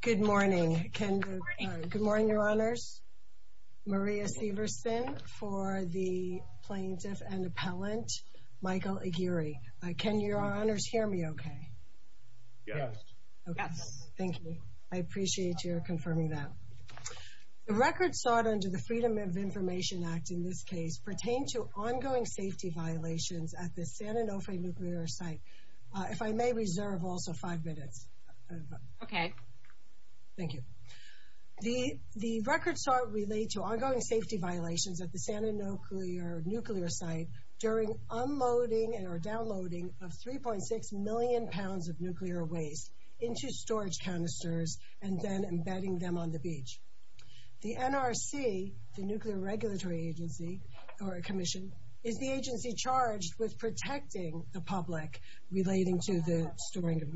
Good morning. Good morning, your honors. Maria Severson for the plaintiff and appellant Michael Aguirre. Can your honors hear me okay? Yes. Okay, thank you. I appreciate your confirming that. The record sought under the Freedom of Information Act in this case pertained to ongoing safety violations at the Santa Nuclear nuclear site during unloading and or downloading of 3.6 million pounds of nuclear waste into storage canisters and then embedding them on the beach. The NRC, the Nuclear Regulatory Commission, is the agency charged with protecting the public relating to the storing of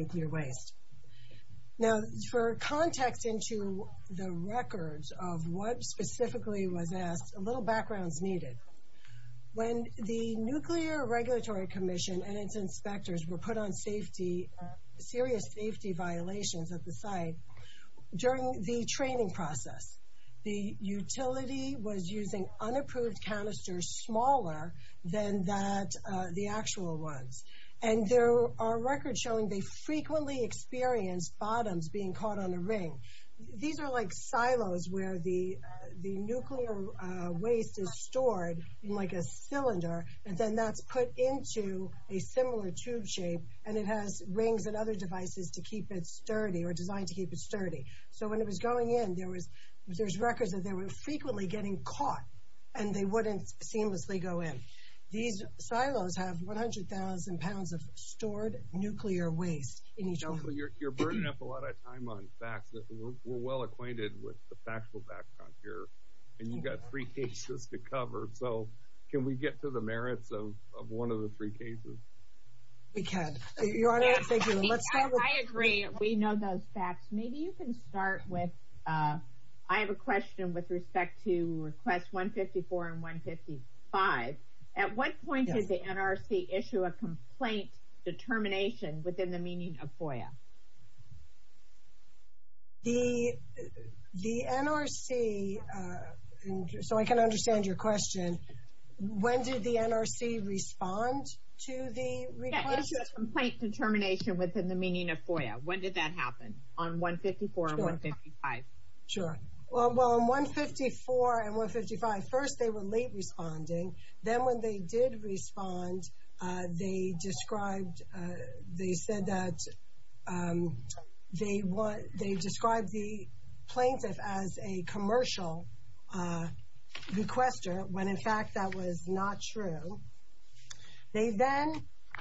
for context into the records of what specifically was asked, a little backgrounds needed. When the Nuclear Regulatory Commission and its inspectors were put on safety, serious safety violations at the site, during the training process, the utility was using unapproved canisters smaller than that the actual ones. And there are records showing they frequently experienced bottoms being caught on a ring. These are like silos where the the nuclear waste is stored in like a cylinder and then that's put into a similar tube shape and it has rings and other devices to keep it sturdy or designed to keep it sturdy. So when it was going in there was there's records that they were frequently getting caught and they wouldn't seamlessly go in. These silos have 100,000 pounds of stored nuclear waste. You're burning up a lot of time on facts. We're well acquainted with the factual background here and you've got three cases to cover. So can we get to the merits of one of the three cases? We can. I agree. We know those facts. Maybe you can start with, I have a question with respect to request 154 and 155. At what point did the NRC issue a complaint determination within the meaning of FOIA? The NRC, so I can understand your question, when did the NRC respond to the complaint determination within the 155? Sure. Well in 154 and 155, first they were late responding. Then when they did respond, they described, they said that they want, they described the plaintiff as a commercial requester when in fact that was not true. They then,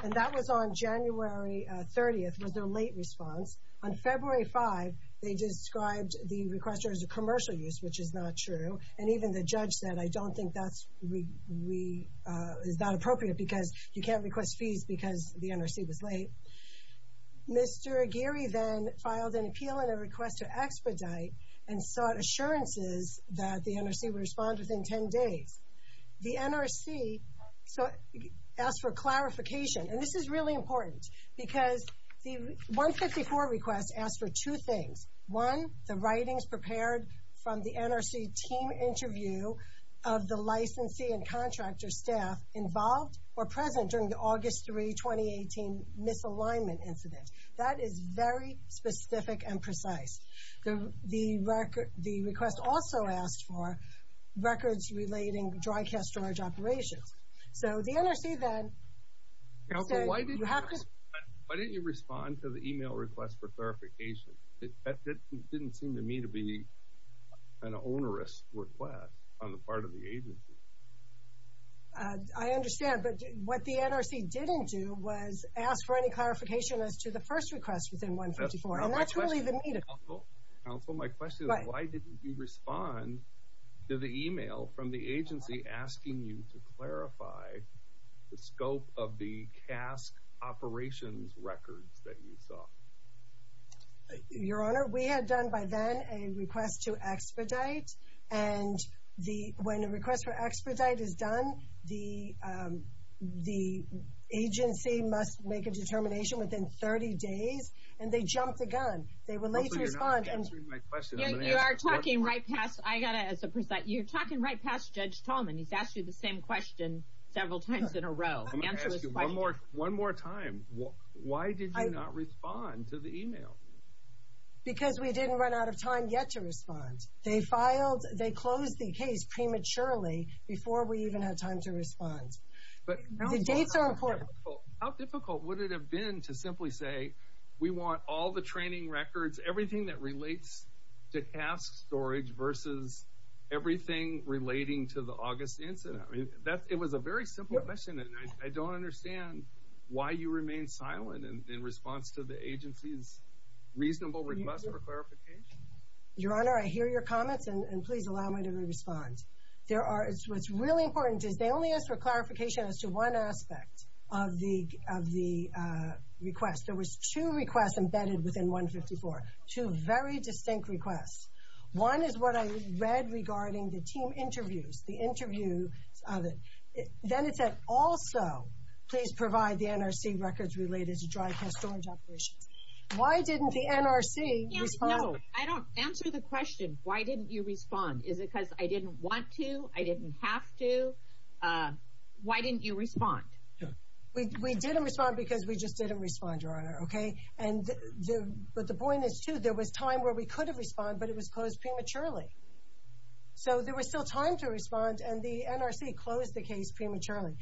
and that was on January 30th, was their late response. On February 5th, they described the requester as a commercial use, which is not true, and even the judge said I don't think that's, is not appropriate because you can't request fees because the NRC was late. Mr. Aguirre then filed an appeal and a request to expedite and sought assurances that the NRC would respond within 10 days. The NRC asked for two things. One, the writings prepared from the NRC team interview of the licensee and contractor staff involved or present during the August 3, 2018 misalignment incident. That is very specific and precise. The record, the request also asked for records relating dry cast storage operations. So the NRC then said, you have to, why didn't you respond to the email request for clarification? It didn't seem to me to be an onerous request on the part of the agency. I understand, but what the NRC didn't do was ask for any clarification as to the first request within 154, and that's really the meeting. Counsel, my question is why didn't you respond to the email from the agency asking you to clarify the scope of the cask operations records that you saw? Your Honor, we had done by then a request to expedite, and the, when a request for expedite is done, the, the agency must make a determination within 30 days, and they jumped the gun. They were late to respond. You are talking right past, I got to, as a, you're talking right past Judge Tallman. He's asked you the same question several times in a row. I'm going to ask you one more, one more time. Why did you not respond to the email? Because we didn't run out of time yet to respond. They filed, they closed the case prematurely before we even had time to respond. But the dates are important. How difficult would it have been to simply say, we want all the training records, everything that relates to cask storage versus everything relating to the August incident? I mean, that, it was a very simple question, and I don't understand why you remained silent in response to the agency's reasonable request for clarification. Your Honor, I hear your comments, and please allow me to respond. There are, what's really important is they only asked for clarification as to one aspect of the, of the request. There was two requests embedded within 154. Two very distinct requests. One is what I read regarding the team interviews, the interview of it. Then it said, also, please provide the NRC records related to dry cask storage operations. Why didn't the NRC respond? I don't, answer the question, why didn't you respond? Is it because I didn't want to? I didn't have to? Why didn't you respond? We didn't respond because we just didn't respond, Your Honor, okay? And the, but the point is, too, there was time where we could have responded, but it was closed prematurely. So there was still time to respond, and the NRC closed the case prematurely.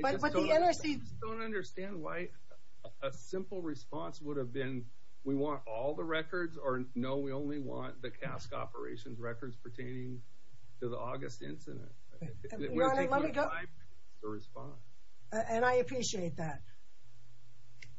But the NRC... I just don't understand why a simple response would have been, we want all the records, or no, we only want the cask operations records pertaining to the August incident. Your Honor, let me go... We didn't have time to respond. And I appreciate that.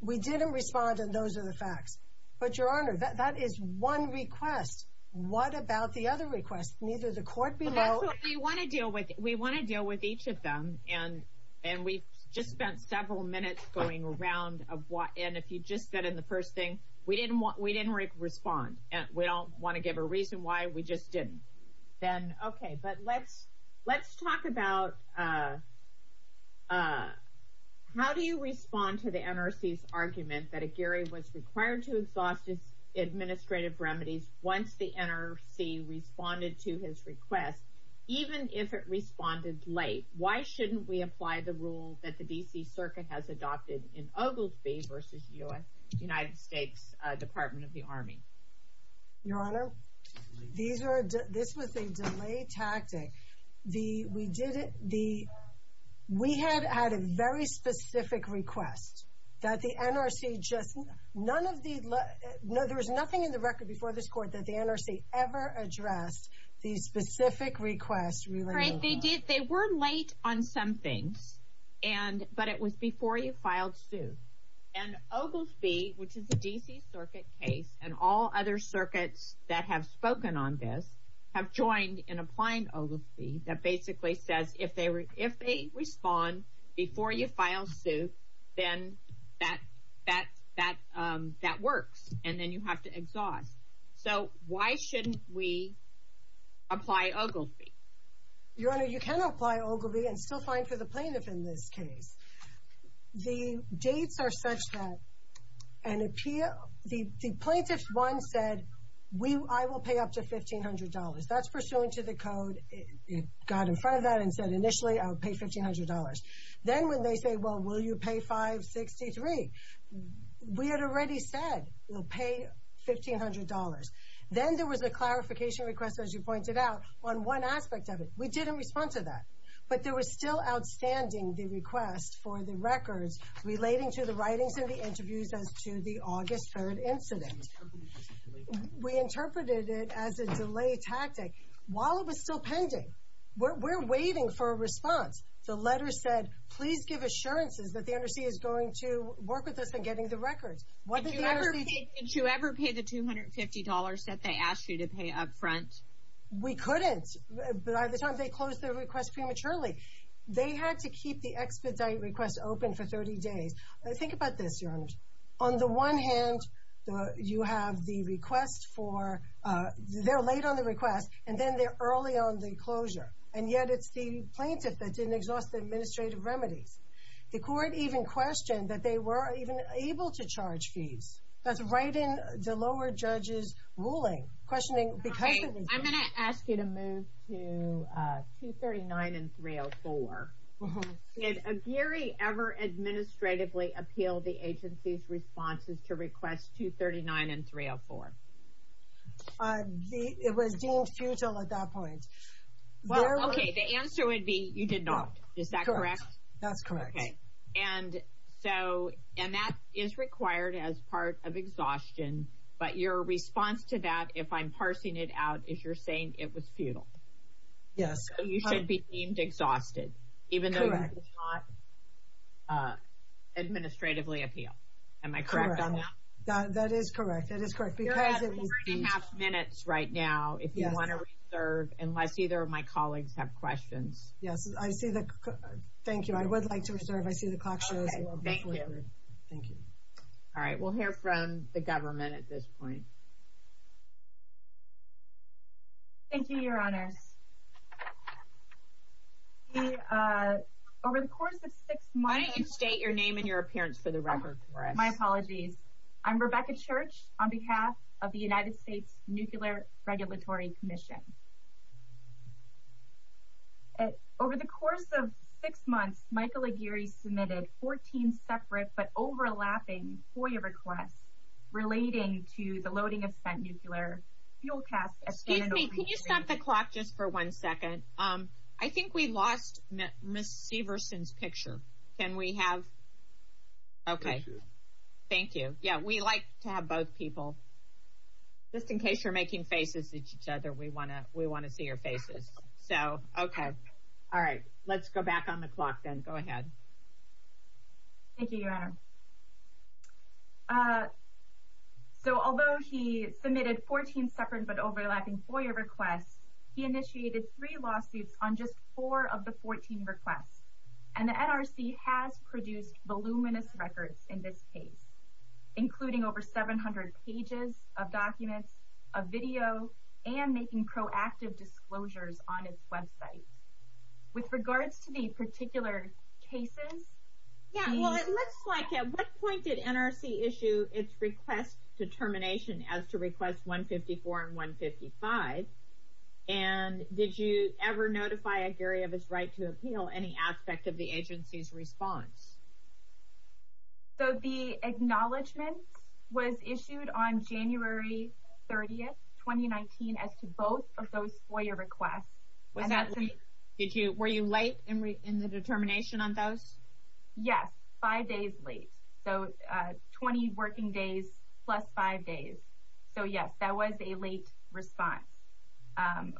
We didn't respond, and those are the facts. But, Your Honor, that is one request. What about the other requests? Neither the court below... Well, that's what, we want to deal with, we want to deal with each of them, and, and we've just spent several minutes going around of what, and if you just said in the first thing, we didn't want, we didn't respond, and we don't want to give a reason why, we just didn't. Then, okay, but let's, let's talk about, uh, uh, how do you respond to the NRC's argument that Aguirre was required to exhaust his administrative remedies once the NRC responded to his request, even if it responded late? Why shouldn't we apply the rule that the D.C. Circuit has adopted in Ogilvie v. U.S., United States Department of the Army? Your Honor, these are, this was a delayed tactic. The, we did it, the, we had had a very specific request that the NRC just, none of the, no, there was nothing in the record before this court that the NRC ever addressed the specific request relating to Ogilvie. Right, they did, they were late on some things, and, but it was before you filed suit, and Ogilvie, which is a D.C. Circuit case, and all other circuits that have spoken on this, have joined in applying Ogilvie, that basically says if they, if they respond before you file suit, then that, that, that, um, that works, and then you have to exhaust. So, why shouldn't we apply Ogilvie? Your Honor, you can apply Ogilvie, and it's still fine for the plaintiff in this case. The dates are such that an appeal, the, the plaintiff once said, we, I will pay up to $1,500. That's pursuant to the code, it got in front of that and said initially I would pay $1,500. Then when they say, well, will you pay $563? We had already said we'll pay $1,500. Then there was a clarification request, as you pointed out, on one aspect of it. We didn't respond to that, but there was still outstanding the request for the records relating to the writings and the interviews as to the August 3rd incident. We interpreted it as a delay tactic. While it was still pending, we're, we're waiting for a response. The letter said, please give assurances that the undersea is going to work with us in getting the records. What did the undersea... Did you ever pay the $250 that they asked you to pay up front? We couldn't. By the time they closed the request prematurely. They had to keep the expedite request open for 30 days. Think about this, Your Honor. On the one hand, you have the request for, they're late on the request, and then they're early on the closure. And yet it's the plaintiff that didn't exhaust the administrative remedies. The court even questioned that they were even able to charge fees. That's right in the lower judge's ruling, questioning because... I'm going to ask you to move to 239 and 304. Did Gary ever administratively appeal the agency's responses to requests 239 and 304? It was deemed futile at that point. The answer would be you did not. Is that correct? That's correct. And that is required as part of exhaustion. But your response to that, if I'm parsing it out, is you're saying it was futile. Yes. You should be deemed exhausted, even though you did not administratively appeal. Am I correct on that? That is correct. You're at three and a half minutes right now if you want to reserve, unless either of my colleagues have questions. Yes. Thank you. I would like to reserve. I see the clock shows. Okay. Thank you. All right. We'll hear from the government at this point. Thank you, Your Honors. Over the course of six months... Why don't you state your name and your appearance for the record for us. My apologies. I'm Rebecca Church. On behalf of the United States Nuclear Regulatory Commission. Over the course of six months, Michael Aguirre submitted 14 separate but overlapping FOIA requests relating to the loading of spent nuclear fuel casts... Excuse me. Can you stop the clock just for one second? I think we lost Ms. Severson's picture. Can we have... Okay. Thank you. Thank you. We like to have both people. Just in case you're making faces at each other, we want to see your faces. Okay. All right. Let's go back on the clock then. Go ahead. Thank you, Your Honor. Although he submitted 14 separate but overlapping FOIA requests, he initiated three lawsuits on just four of the 14 requests. And the NRC has produced voluminous records in this case, including over 700 pages of documents, of video, and making proactive disclosures on its website. With regards to the particular cases... Yeah. Well, it looks like... At what point did NRC issue its request determination as to requests 154 and 155? And did you ever notify Aguirre of his right to appeal any aspect of the agency's response? So the acknowledgment was issued on January 30, 2019, as to both of those FOIA requests. Was that late? Were you late in the determination on those? Yes. Five days late. So 20 working days plus five days. So, yes, that was a late response.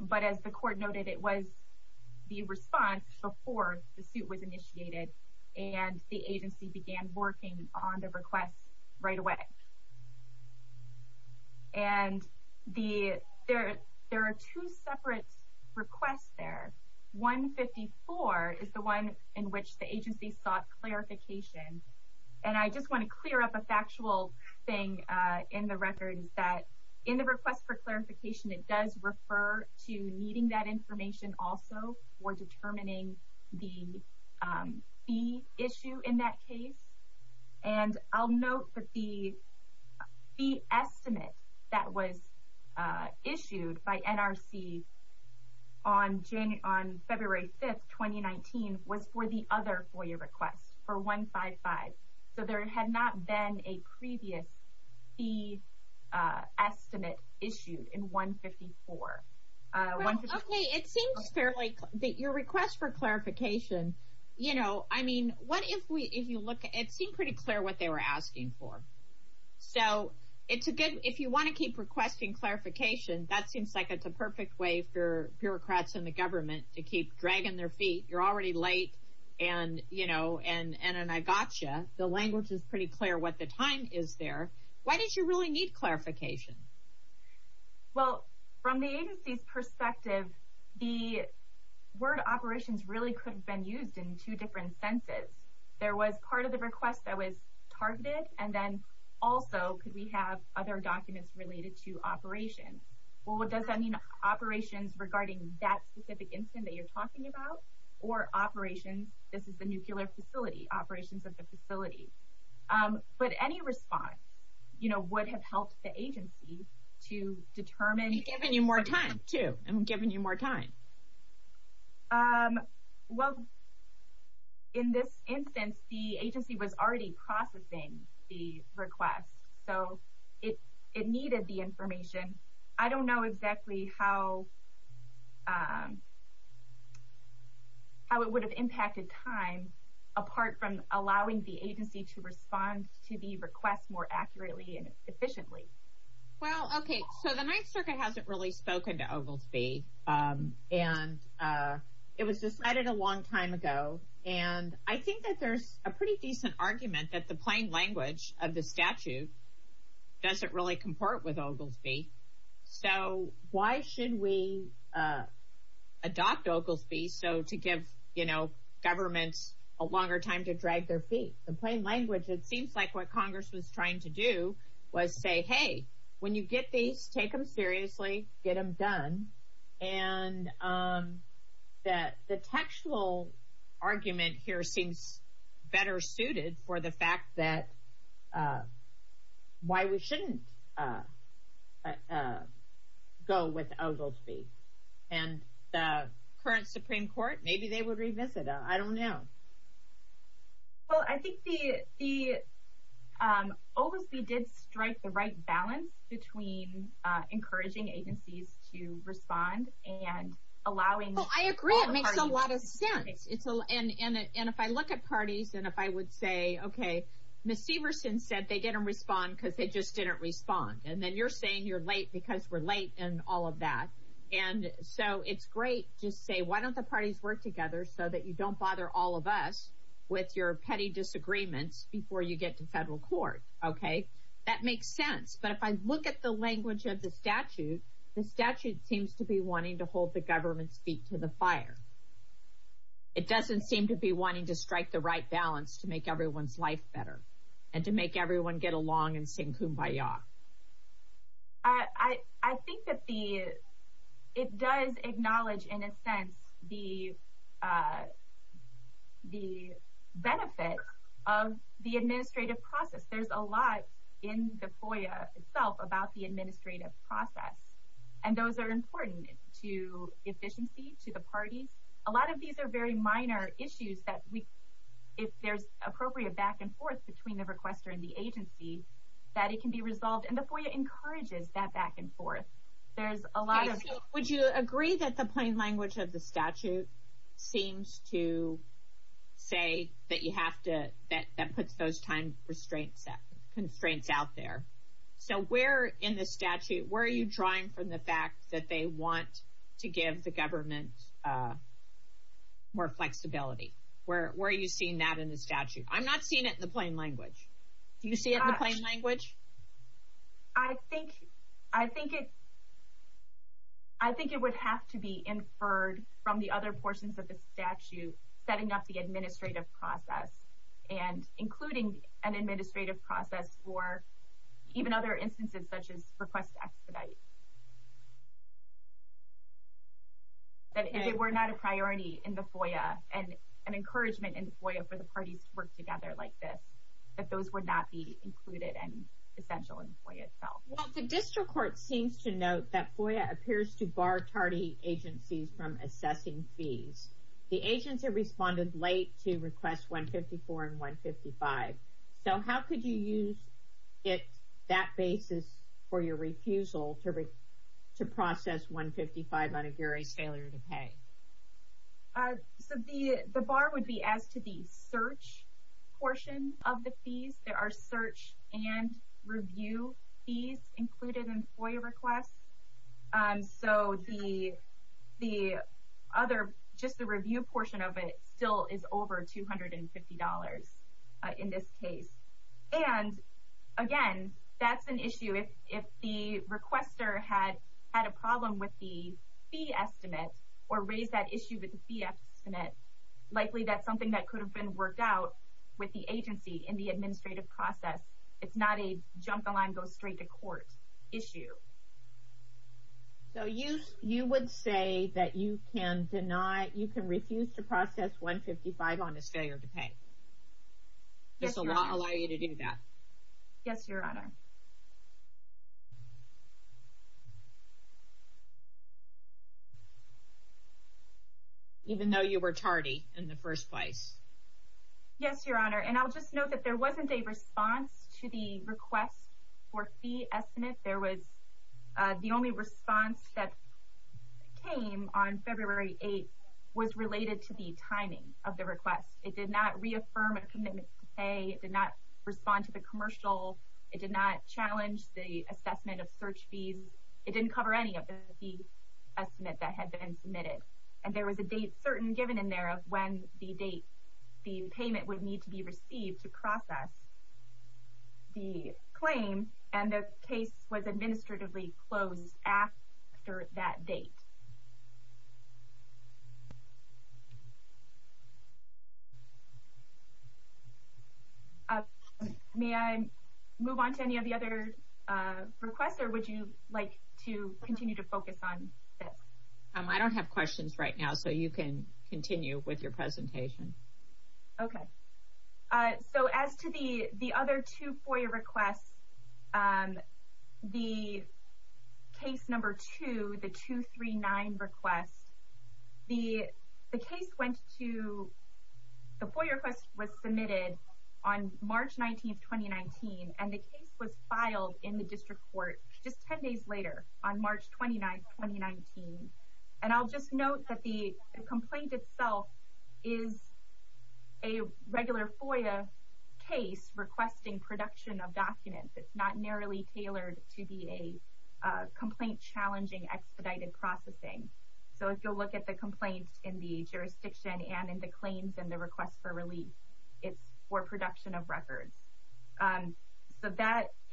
But as the court noted, it was the response before the suit was initiated, and the agency began working on the request right away. And there are two separate requests there. 154 is the one in which the agency sought clarification. And I just want to clear up a factual thing in the record, that in the request for clarification, it does refer to needing that information also for determining the fee issue in that case. And I'll note that the fee estimate that was issued by NRC on February 5, 2019, was for the other FOIA request, for 155. So there had not been a previous fee estimate issued in 154. Okay, it seems fairly clear. Your request for clarification, you know, I mean, what if you look at it, it seemed pretty clear what they were asking for. So if you want to keep requesting clarification, that seems like it's a perfect way for bureaucrats and the government to keep dragging their feet. You're already late, and, you know, and I got you. The language is pretty clear what the time is there. Why did you really need clarification? Well, from the agency's perspective, the word operations really could have been used in two different senses. There was part of the request that was targeted, and then also could we have other documents related to operations. Well, does that mean operations regarding that specific incident that you're talking about, or operations, this is the nuclear facility, operations of the facility. But any response, you know, would have helped the agency to determine. And given you more time, too, and given you more time. Well, in this instance, the agency was already processing the request, so it needed the information. I don't know exactly how it would have impacted time, apart from allowing the agency to respond to the request more accurately and efficiently. Well, okay, so the Ninth Circuit hasn't really spoken to Ogilvie, and it was decided a long time ago. And I think that there's a pretty decent argument that the plain language of the statute doesn't really comport with Ogilvie. So why should we adopt Ogilvie so to give, you know, governments a longer time to drag their feet? In plain language, it seems like what Congress was trying to do was say, hey, when you get these, take them seriously, get them done. And the textual argument here seems better suited for the fact that why we shouldn't go with Ogilvie. And the current Supreme Court, maybe they would revisit it. I don't know. Well, I think Ogilvie did strike the right balance between encouraging agencies to respond and allowing all parties. It makes a lot of sense. And if I look at parties and if I would say, okay, Ms. Severson said they didn't respond because they just didn't respond. And then you're saying you're late because we're late and all of that. And so it's great to say, why don't the parties work together so that you don't bother all of us with your petty disagreements before you get to federal court, okay? That makes sense. But if I look at the language of the statute, the statute seems to be wanting to hold the government's feet to the fire. It doesn't seem to be wanting to strike the right balance to make everyone's life better and to make everyone get along and sing kumbaya. I think that it does acknowledge, in a sense, the benefit of the administrative process. There's a lot in the FOIA itself about the administrative process. And those are important to efficiency, to the parties. A lot of these are very minor issues that if there's appropriate back and forth between the requester and the agency, that it can be resolved. And the FOIA encourages that back and forth. There's a lot of... Would you agree that the plain language of the statute seems to say that you have to... that puts those time constraints out there? So where in the statute, where are you drawing from the fact that they want to give the government more flexibility? Where are you seeing that in the statute? I'm not seeing it in the plain language. Do you see it in the plain language? I think it would have to be inferred from the other portions of the statute setting up the administrative process and including an administrative process for even other instances such as request expedite. That if it were not a priority in the FOIA and an encouragement in the FOIA for the parties to work together like this, that those would not be included and essential in the FOIA itself. The district court seems to note that FOIA appears to bar TARDI agencies from assessing fees. The agency responded late to requests 154 and 155. So how could you use that basis for your refusal to process 155 on a jury's failure to pay? So the bar would be as to the search portion of the fees. There are search and review fees included in FOIA requests. So just the review portion of it still is over $250 in this case. And, again, that's an issue. If the requester had a problem with the fee estimate or raised that issue with the fee estimate, likely that's something that could have been worked out with the agency in the administrative process. It's not a jump the line, go straight to court issue. So you would say that you can refuse to process 155 on his failure to pay? Does the law allow you to do that? Yes, Your Honor. Even though you were TARDI in the first place? Yes, Your Honor. And I'll just note that there wasn't a response to the request for fee estimate. There was the only response that came on February 8th was related to the timing of the request. It did not reaffirm a commitment to pay. It did not respond to the commercial. It did not challenge the assessment of search fees. It didn't cover any of the fee estimate that had been submitted. And there was a date certain given in there of when the date the payment would need to be received to process the claim, and the case was administratively closed after that date. May I move on to any of the other requests, or would you like to continue to focus on this? I don't have questions right now, so you can continue with your presentation. Okay. So as to the other two FOIA requests, the case number two, the 239 request, the case went to the FOIA request was submitted on March 19th, 2019, and the case was filed in the district court just 10 days later on March 29th, 2019. And I'll just note that the complaint itself is a regular FOIA case requesting production of documents. It's not narrowly tailored to be a complaint-challenging expedited processing. So if you'll look at the complaint in the jurisdiction and in the claims and the request for relief, it's for production of records. So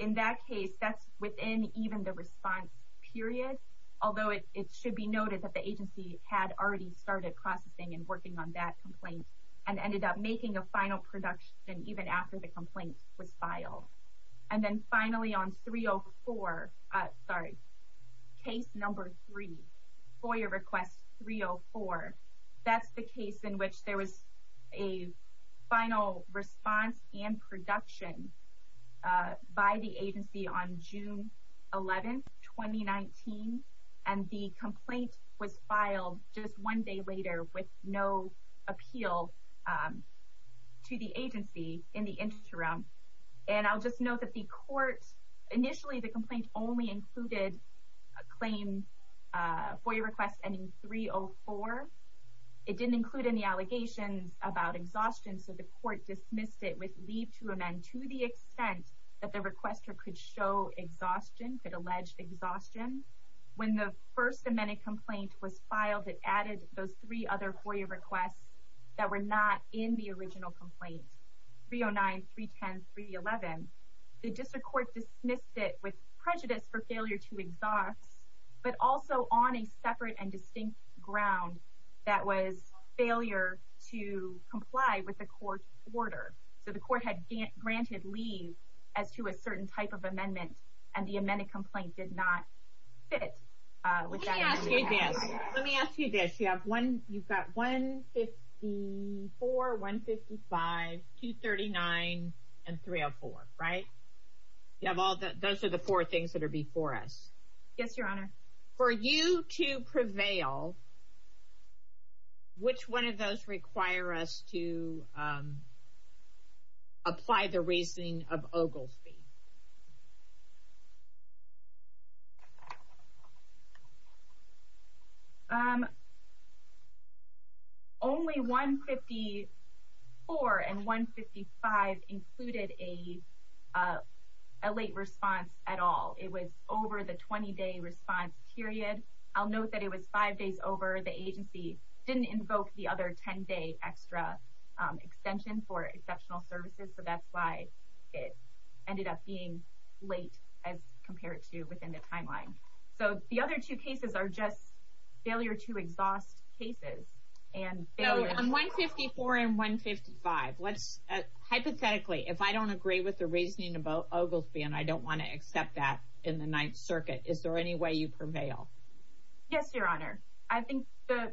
in that case, that's within even the response period, although it should be noted that the agency had already started processing and working on that complaint and ended up making a final production even after the complaint was filed. And then finally on 304, sorry, case number three, FOIA request 304, that's the case in which there was a final response and production by the agency on June 11th, 2019, and the complaint was filed just one day later with no appeal to the agency in the interim. And I'll just note that the court, initially the complaint only included a claim FOIA request ending 304. It didn't include any allegations about exhaustion, so the court dismissed it with leave to amend to the extent that the requester could show exhaustion, could allege exhaustion. When the first amended complaint was filed, it added those three other FOIA requests that were not in the original complaint, 309, 310, 311. The district court dismissed it with prejudice for failure to exhaust, but also on a separate and distinct ground that was failure to comply with the court's order. So the court had granted leave as to a certain type of amendment, and the amended complaint did not fit with that. Let me ask you this. You've got 154, 155, 239, and 304, right? Those are the four things that are before us. Yes, Your Honor. For you to prevail, which one of those require us to apply the reasoning of Ogilvie? Only 154 and 155 included a late response at all. It was over the 20-day response period. I'll note that it was five days over. The agency didn't invoke the other 10-day extra extension for exceptional services, so that's why it ended up being late as compared to within the timeline. So the other two cases are just failure to exhaust cases. On 154 and 155, hypothetically, if I don't agree with the reasoning about Ogilvie and I don't want to accept that in the Ninth Circuit, is there any way you prevail? Yes, Your Honor. I think the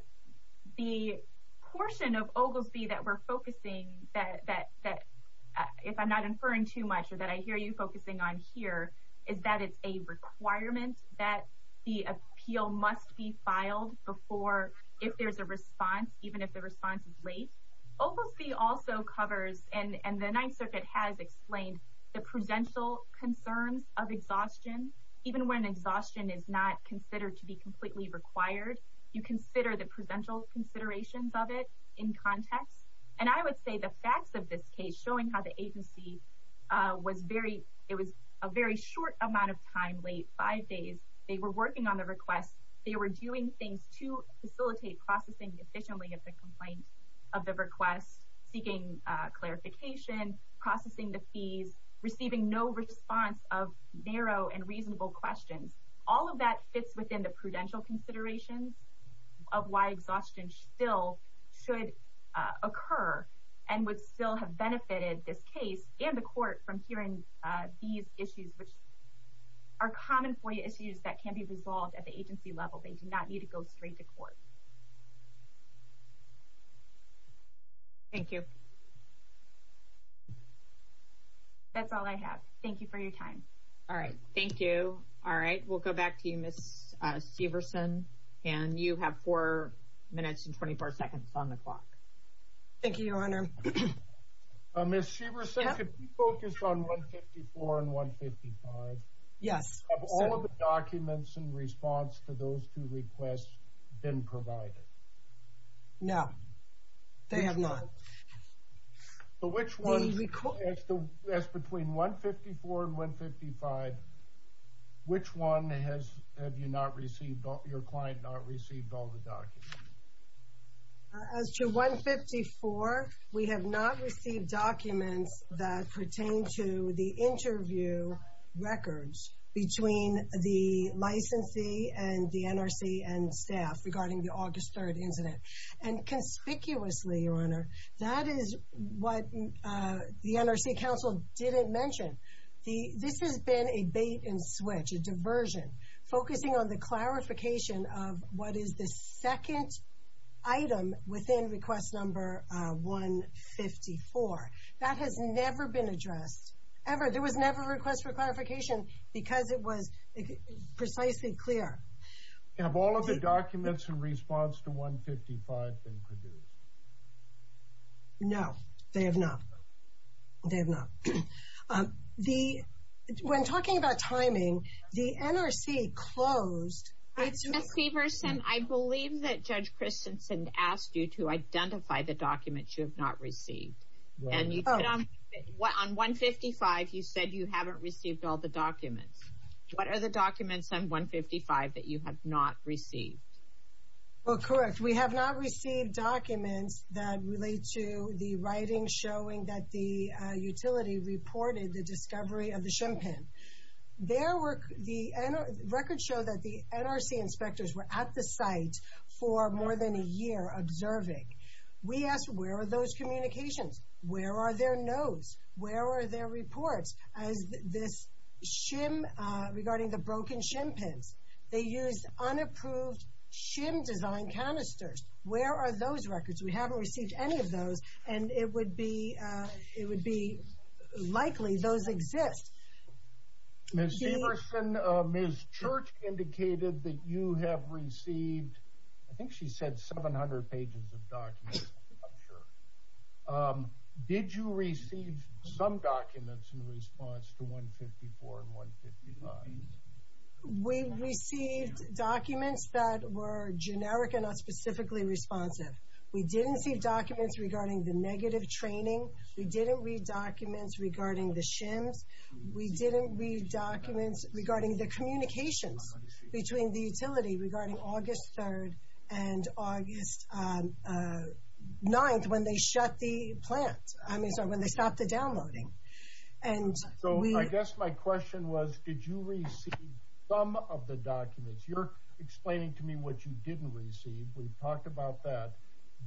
portion of Ogilvie that we're focusing, if I'm not inferring too much or that I hear you focusing on here, is that it's a requirement that the appeal must be filed if there's a response, even if the response is late. Ogilvie also covers, and the Ninth Circuit has explained, the prudential concerns of exhaustion. Even when exhaustion is not considered to be completely required, you consider the prudential considerations of it in context. And I would say the facts of this case, showing how the agency was a very short amount of time, late five days, they were working on the request, they were doing things to facilitate processing efficiently of the complaint of the request, seeking clarification, processing the fees, receiving no response of narrow and reasonable questions. All of that fits within the prudential considerations of why exhaustion still should occur and would still have benefited this case and the Court from hearing these issues, which are common FOIA issues that can be resolved at the agency level. They do not need to go straight to Court. Thank you. That's all I have. Thank you for your time. All right. Thank you. All right. We'll go back to you, Ms. Severson. And you have four minutes and 24 seconds on the clock. Thank you, Your Honor. Ms. Severson, could you focus on 154 and 155? Yes. Have all of the documents in response to those two requests been provided? No, they have not. As between 154 and 155, which one have your client not received all the documents? As to 154, we have not received documents that pertain to the interview records between the licensee and the NRC and staff regarding the August 3rd incident. And conspicuously, Your Honor, that is what the NRC counsel didn't mention. This has been a bait and switch, a diversion, focusing on the clarification of what is the second item within request number 154. That has never been addressed, ever. There was never a request for clarification because it was precisely clear. Have all of the documents in response to 155 been produced? No, they have not. They have not. When talking about timing, the NRC closed. Ms. Severson, I believe that Judge Christensen asked you to identify the documents you have not received. And on 155, you said you haven't received all the documents. What are the documents on 155 that you have not received? Well, correct. We have not received documents that relate to the writing showing that the utility reported the discovery of the shimpan. for more than a year observing. We asked, where are those communications? Where are their notes? Where are their reports as this shim regarding the broken shimpans? They used unapproved shim design canisters. Where are those records? We haven't received any of those. And it would be likely those exist. Ms. Severson, Ms. Church indicated that you have received, I think she said 700 pages of documents, I'm sure. Did you receive some documents in response to 154 and 155? We received documents that were generic and not specifically responsive. We didn't receive documents regarding the negative training. We didn't read documents regarding the shims. We didn't read documents regarding the communications between the utility regarding August 3rd and August 9th when they shut the plant, when they stopped the downloading. So I guess my question was, did you receive some of the documents? You're explaining to me what you didn't receive. We've talked about that.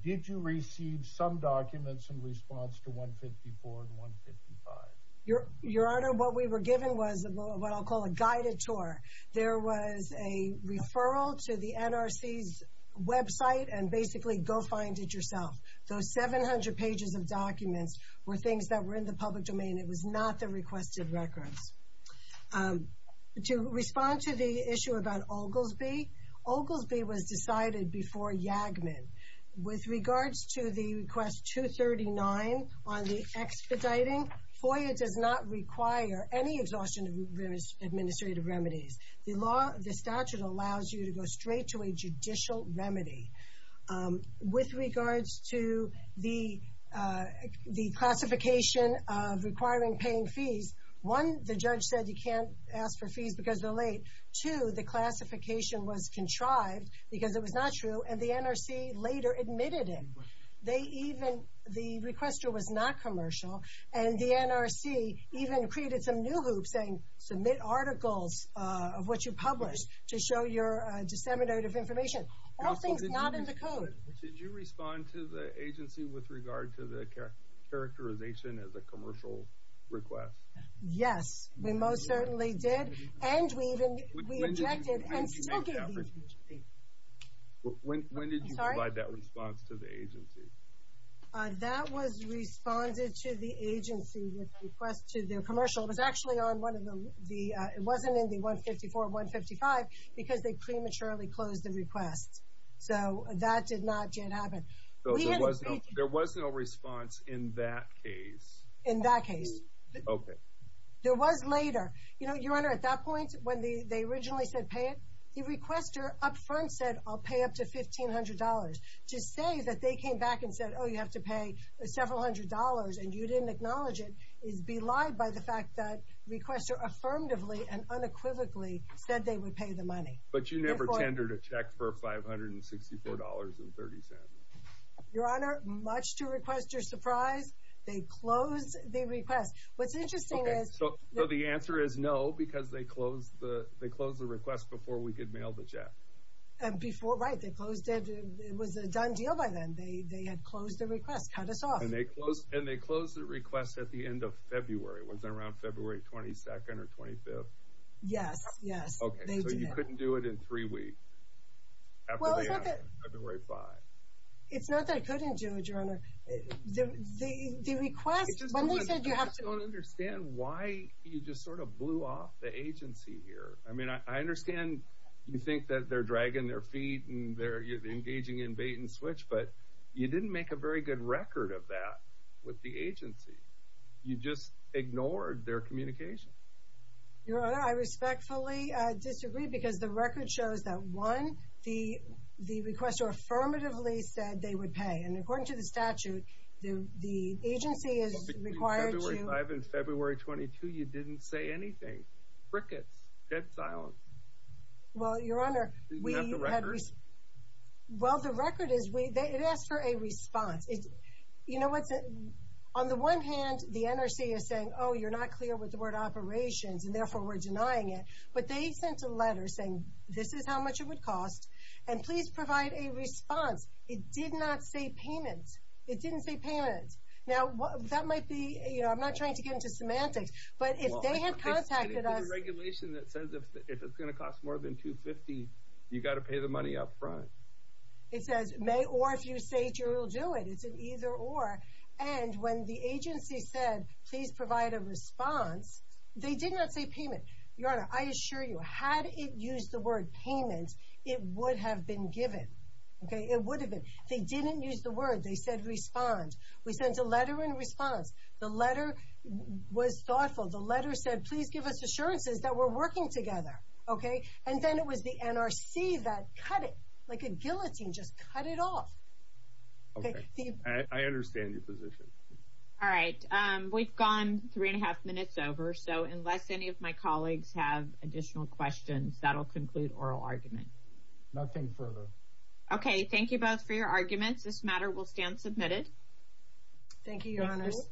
Did you receive some documents in response to 154 and 155? Your Honor, what we were given was what I'll call a guided tour. There was a referral to the NRC's website and basically go find it yourself. Those 700 pages of documents were things that were in the public domain. It was not the requested records. To respond to the issue about Oglesby, Oglesby was decided before Yagman. With regards to the request 239 on the expediting, FOIA does not require any exhaustion of administrative remedies. The statute allows you to go straight to a judicial remedy. With regards to the classification of requiring paying fees, one, the judge said you can't ask for fees because they're late. Two, the classification was contrived because it was not true, and the NRC later admitted it. The requester was not commercial, and the NRC even created some new hoops saying, submit articles of what you published to show your disseminated information. All things not in the code. Did you respond to the agency with regard to the characterization as a commercial request? Yes, we most certainly did. And we even rejected and still gave the agency. When did you provide that response to the agency? That was responded to the agency with a request to their commercial. It was actually on one of the, it wasn't in the 154, 155, because they prematurely closed the request. So that did not yet happen. So there was no response in that case? In that case. Okay. There was later. You know, Your Honor, at that point when they originally said pay it, the requester up front said I'll pay up to $1,500. To say that they came back and said, oh, you have to pay several hundred dollars and you didn't acknowledge it is belied by the fact that the requester affirmatively and unequivocally said they would pay the money. But you never tendered a check for $564.30? Your Honor, much to the requester's surprise, they closed the request. What's interesting is. So the answer is no, because they closed the request before we could mail the check. Before, right. They closed it. It was a done deal by then. They had closed the request, cut us off. And they closed the request at the end of February. Was it around February 22nd or 25th? Yes, yes. Okay. So you couldn't do it in three weeks? Well, it's not that. February 5th. It's not that I couldn't do it, Your Honor. The request, when they said you have to. I just don't understand why you just sort of blew off the agency here. I mean, I understand you think that they're dragging their feet and they're engaging in bait and switch, but you didn't make a very good record of that with the agency. You just ignored their communication. Your Honor, I respectfully disagree because the record shows that, one, the requester affirmatively said they would pay. And according to the statute, the agency is required to. Between February 5th and February 22nd, you didn't say anything. Crickets. Dead silence. Well, Your Honor, we had. Didn't you have the record? Well, the record is it asks for a response. You know, on the one hand, the NRC is saying, oh, you're not clear with the word operations, and therefore we're denying it. But they sent a letter saying this is how much it would cost, and please provide a response. It did not say payment. It didn't say payment. Now, that might be, you know, I'm not trying to get into semantics, but if they had contacted us. There's a regulation that says if it's going to cost more than $250,000, you've got to pay the money up front. It says may or, if you say it, you will do it. It's an either or. And when the agency said please provide a response, they did not say payment. Your Honor, I assure you, had it used the word payment, it would have been given. Okay? It would have been. They didn't use the word. They said respond. We sent a letter in response. The letter was thoughtful. The letter said please give us assurances that we're working together. Okay? And then it was the NRC that cut it like a guillotine, just cut it off. Okay. I understand your position. All right. We've gone three and a half minutes over, so unless any of my colleagues have additional questions, that will conclude oral argument. Nothing further. Okay. Thank you both for your arguments. This matter will stand submitted. Thank you, Your Honors.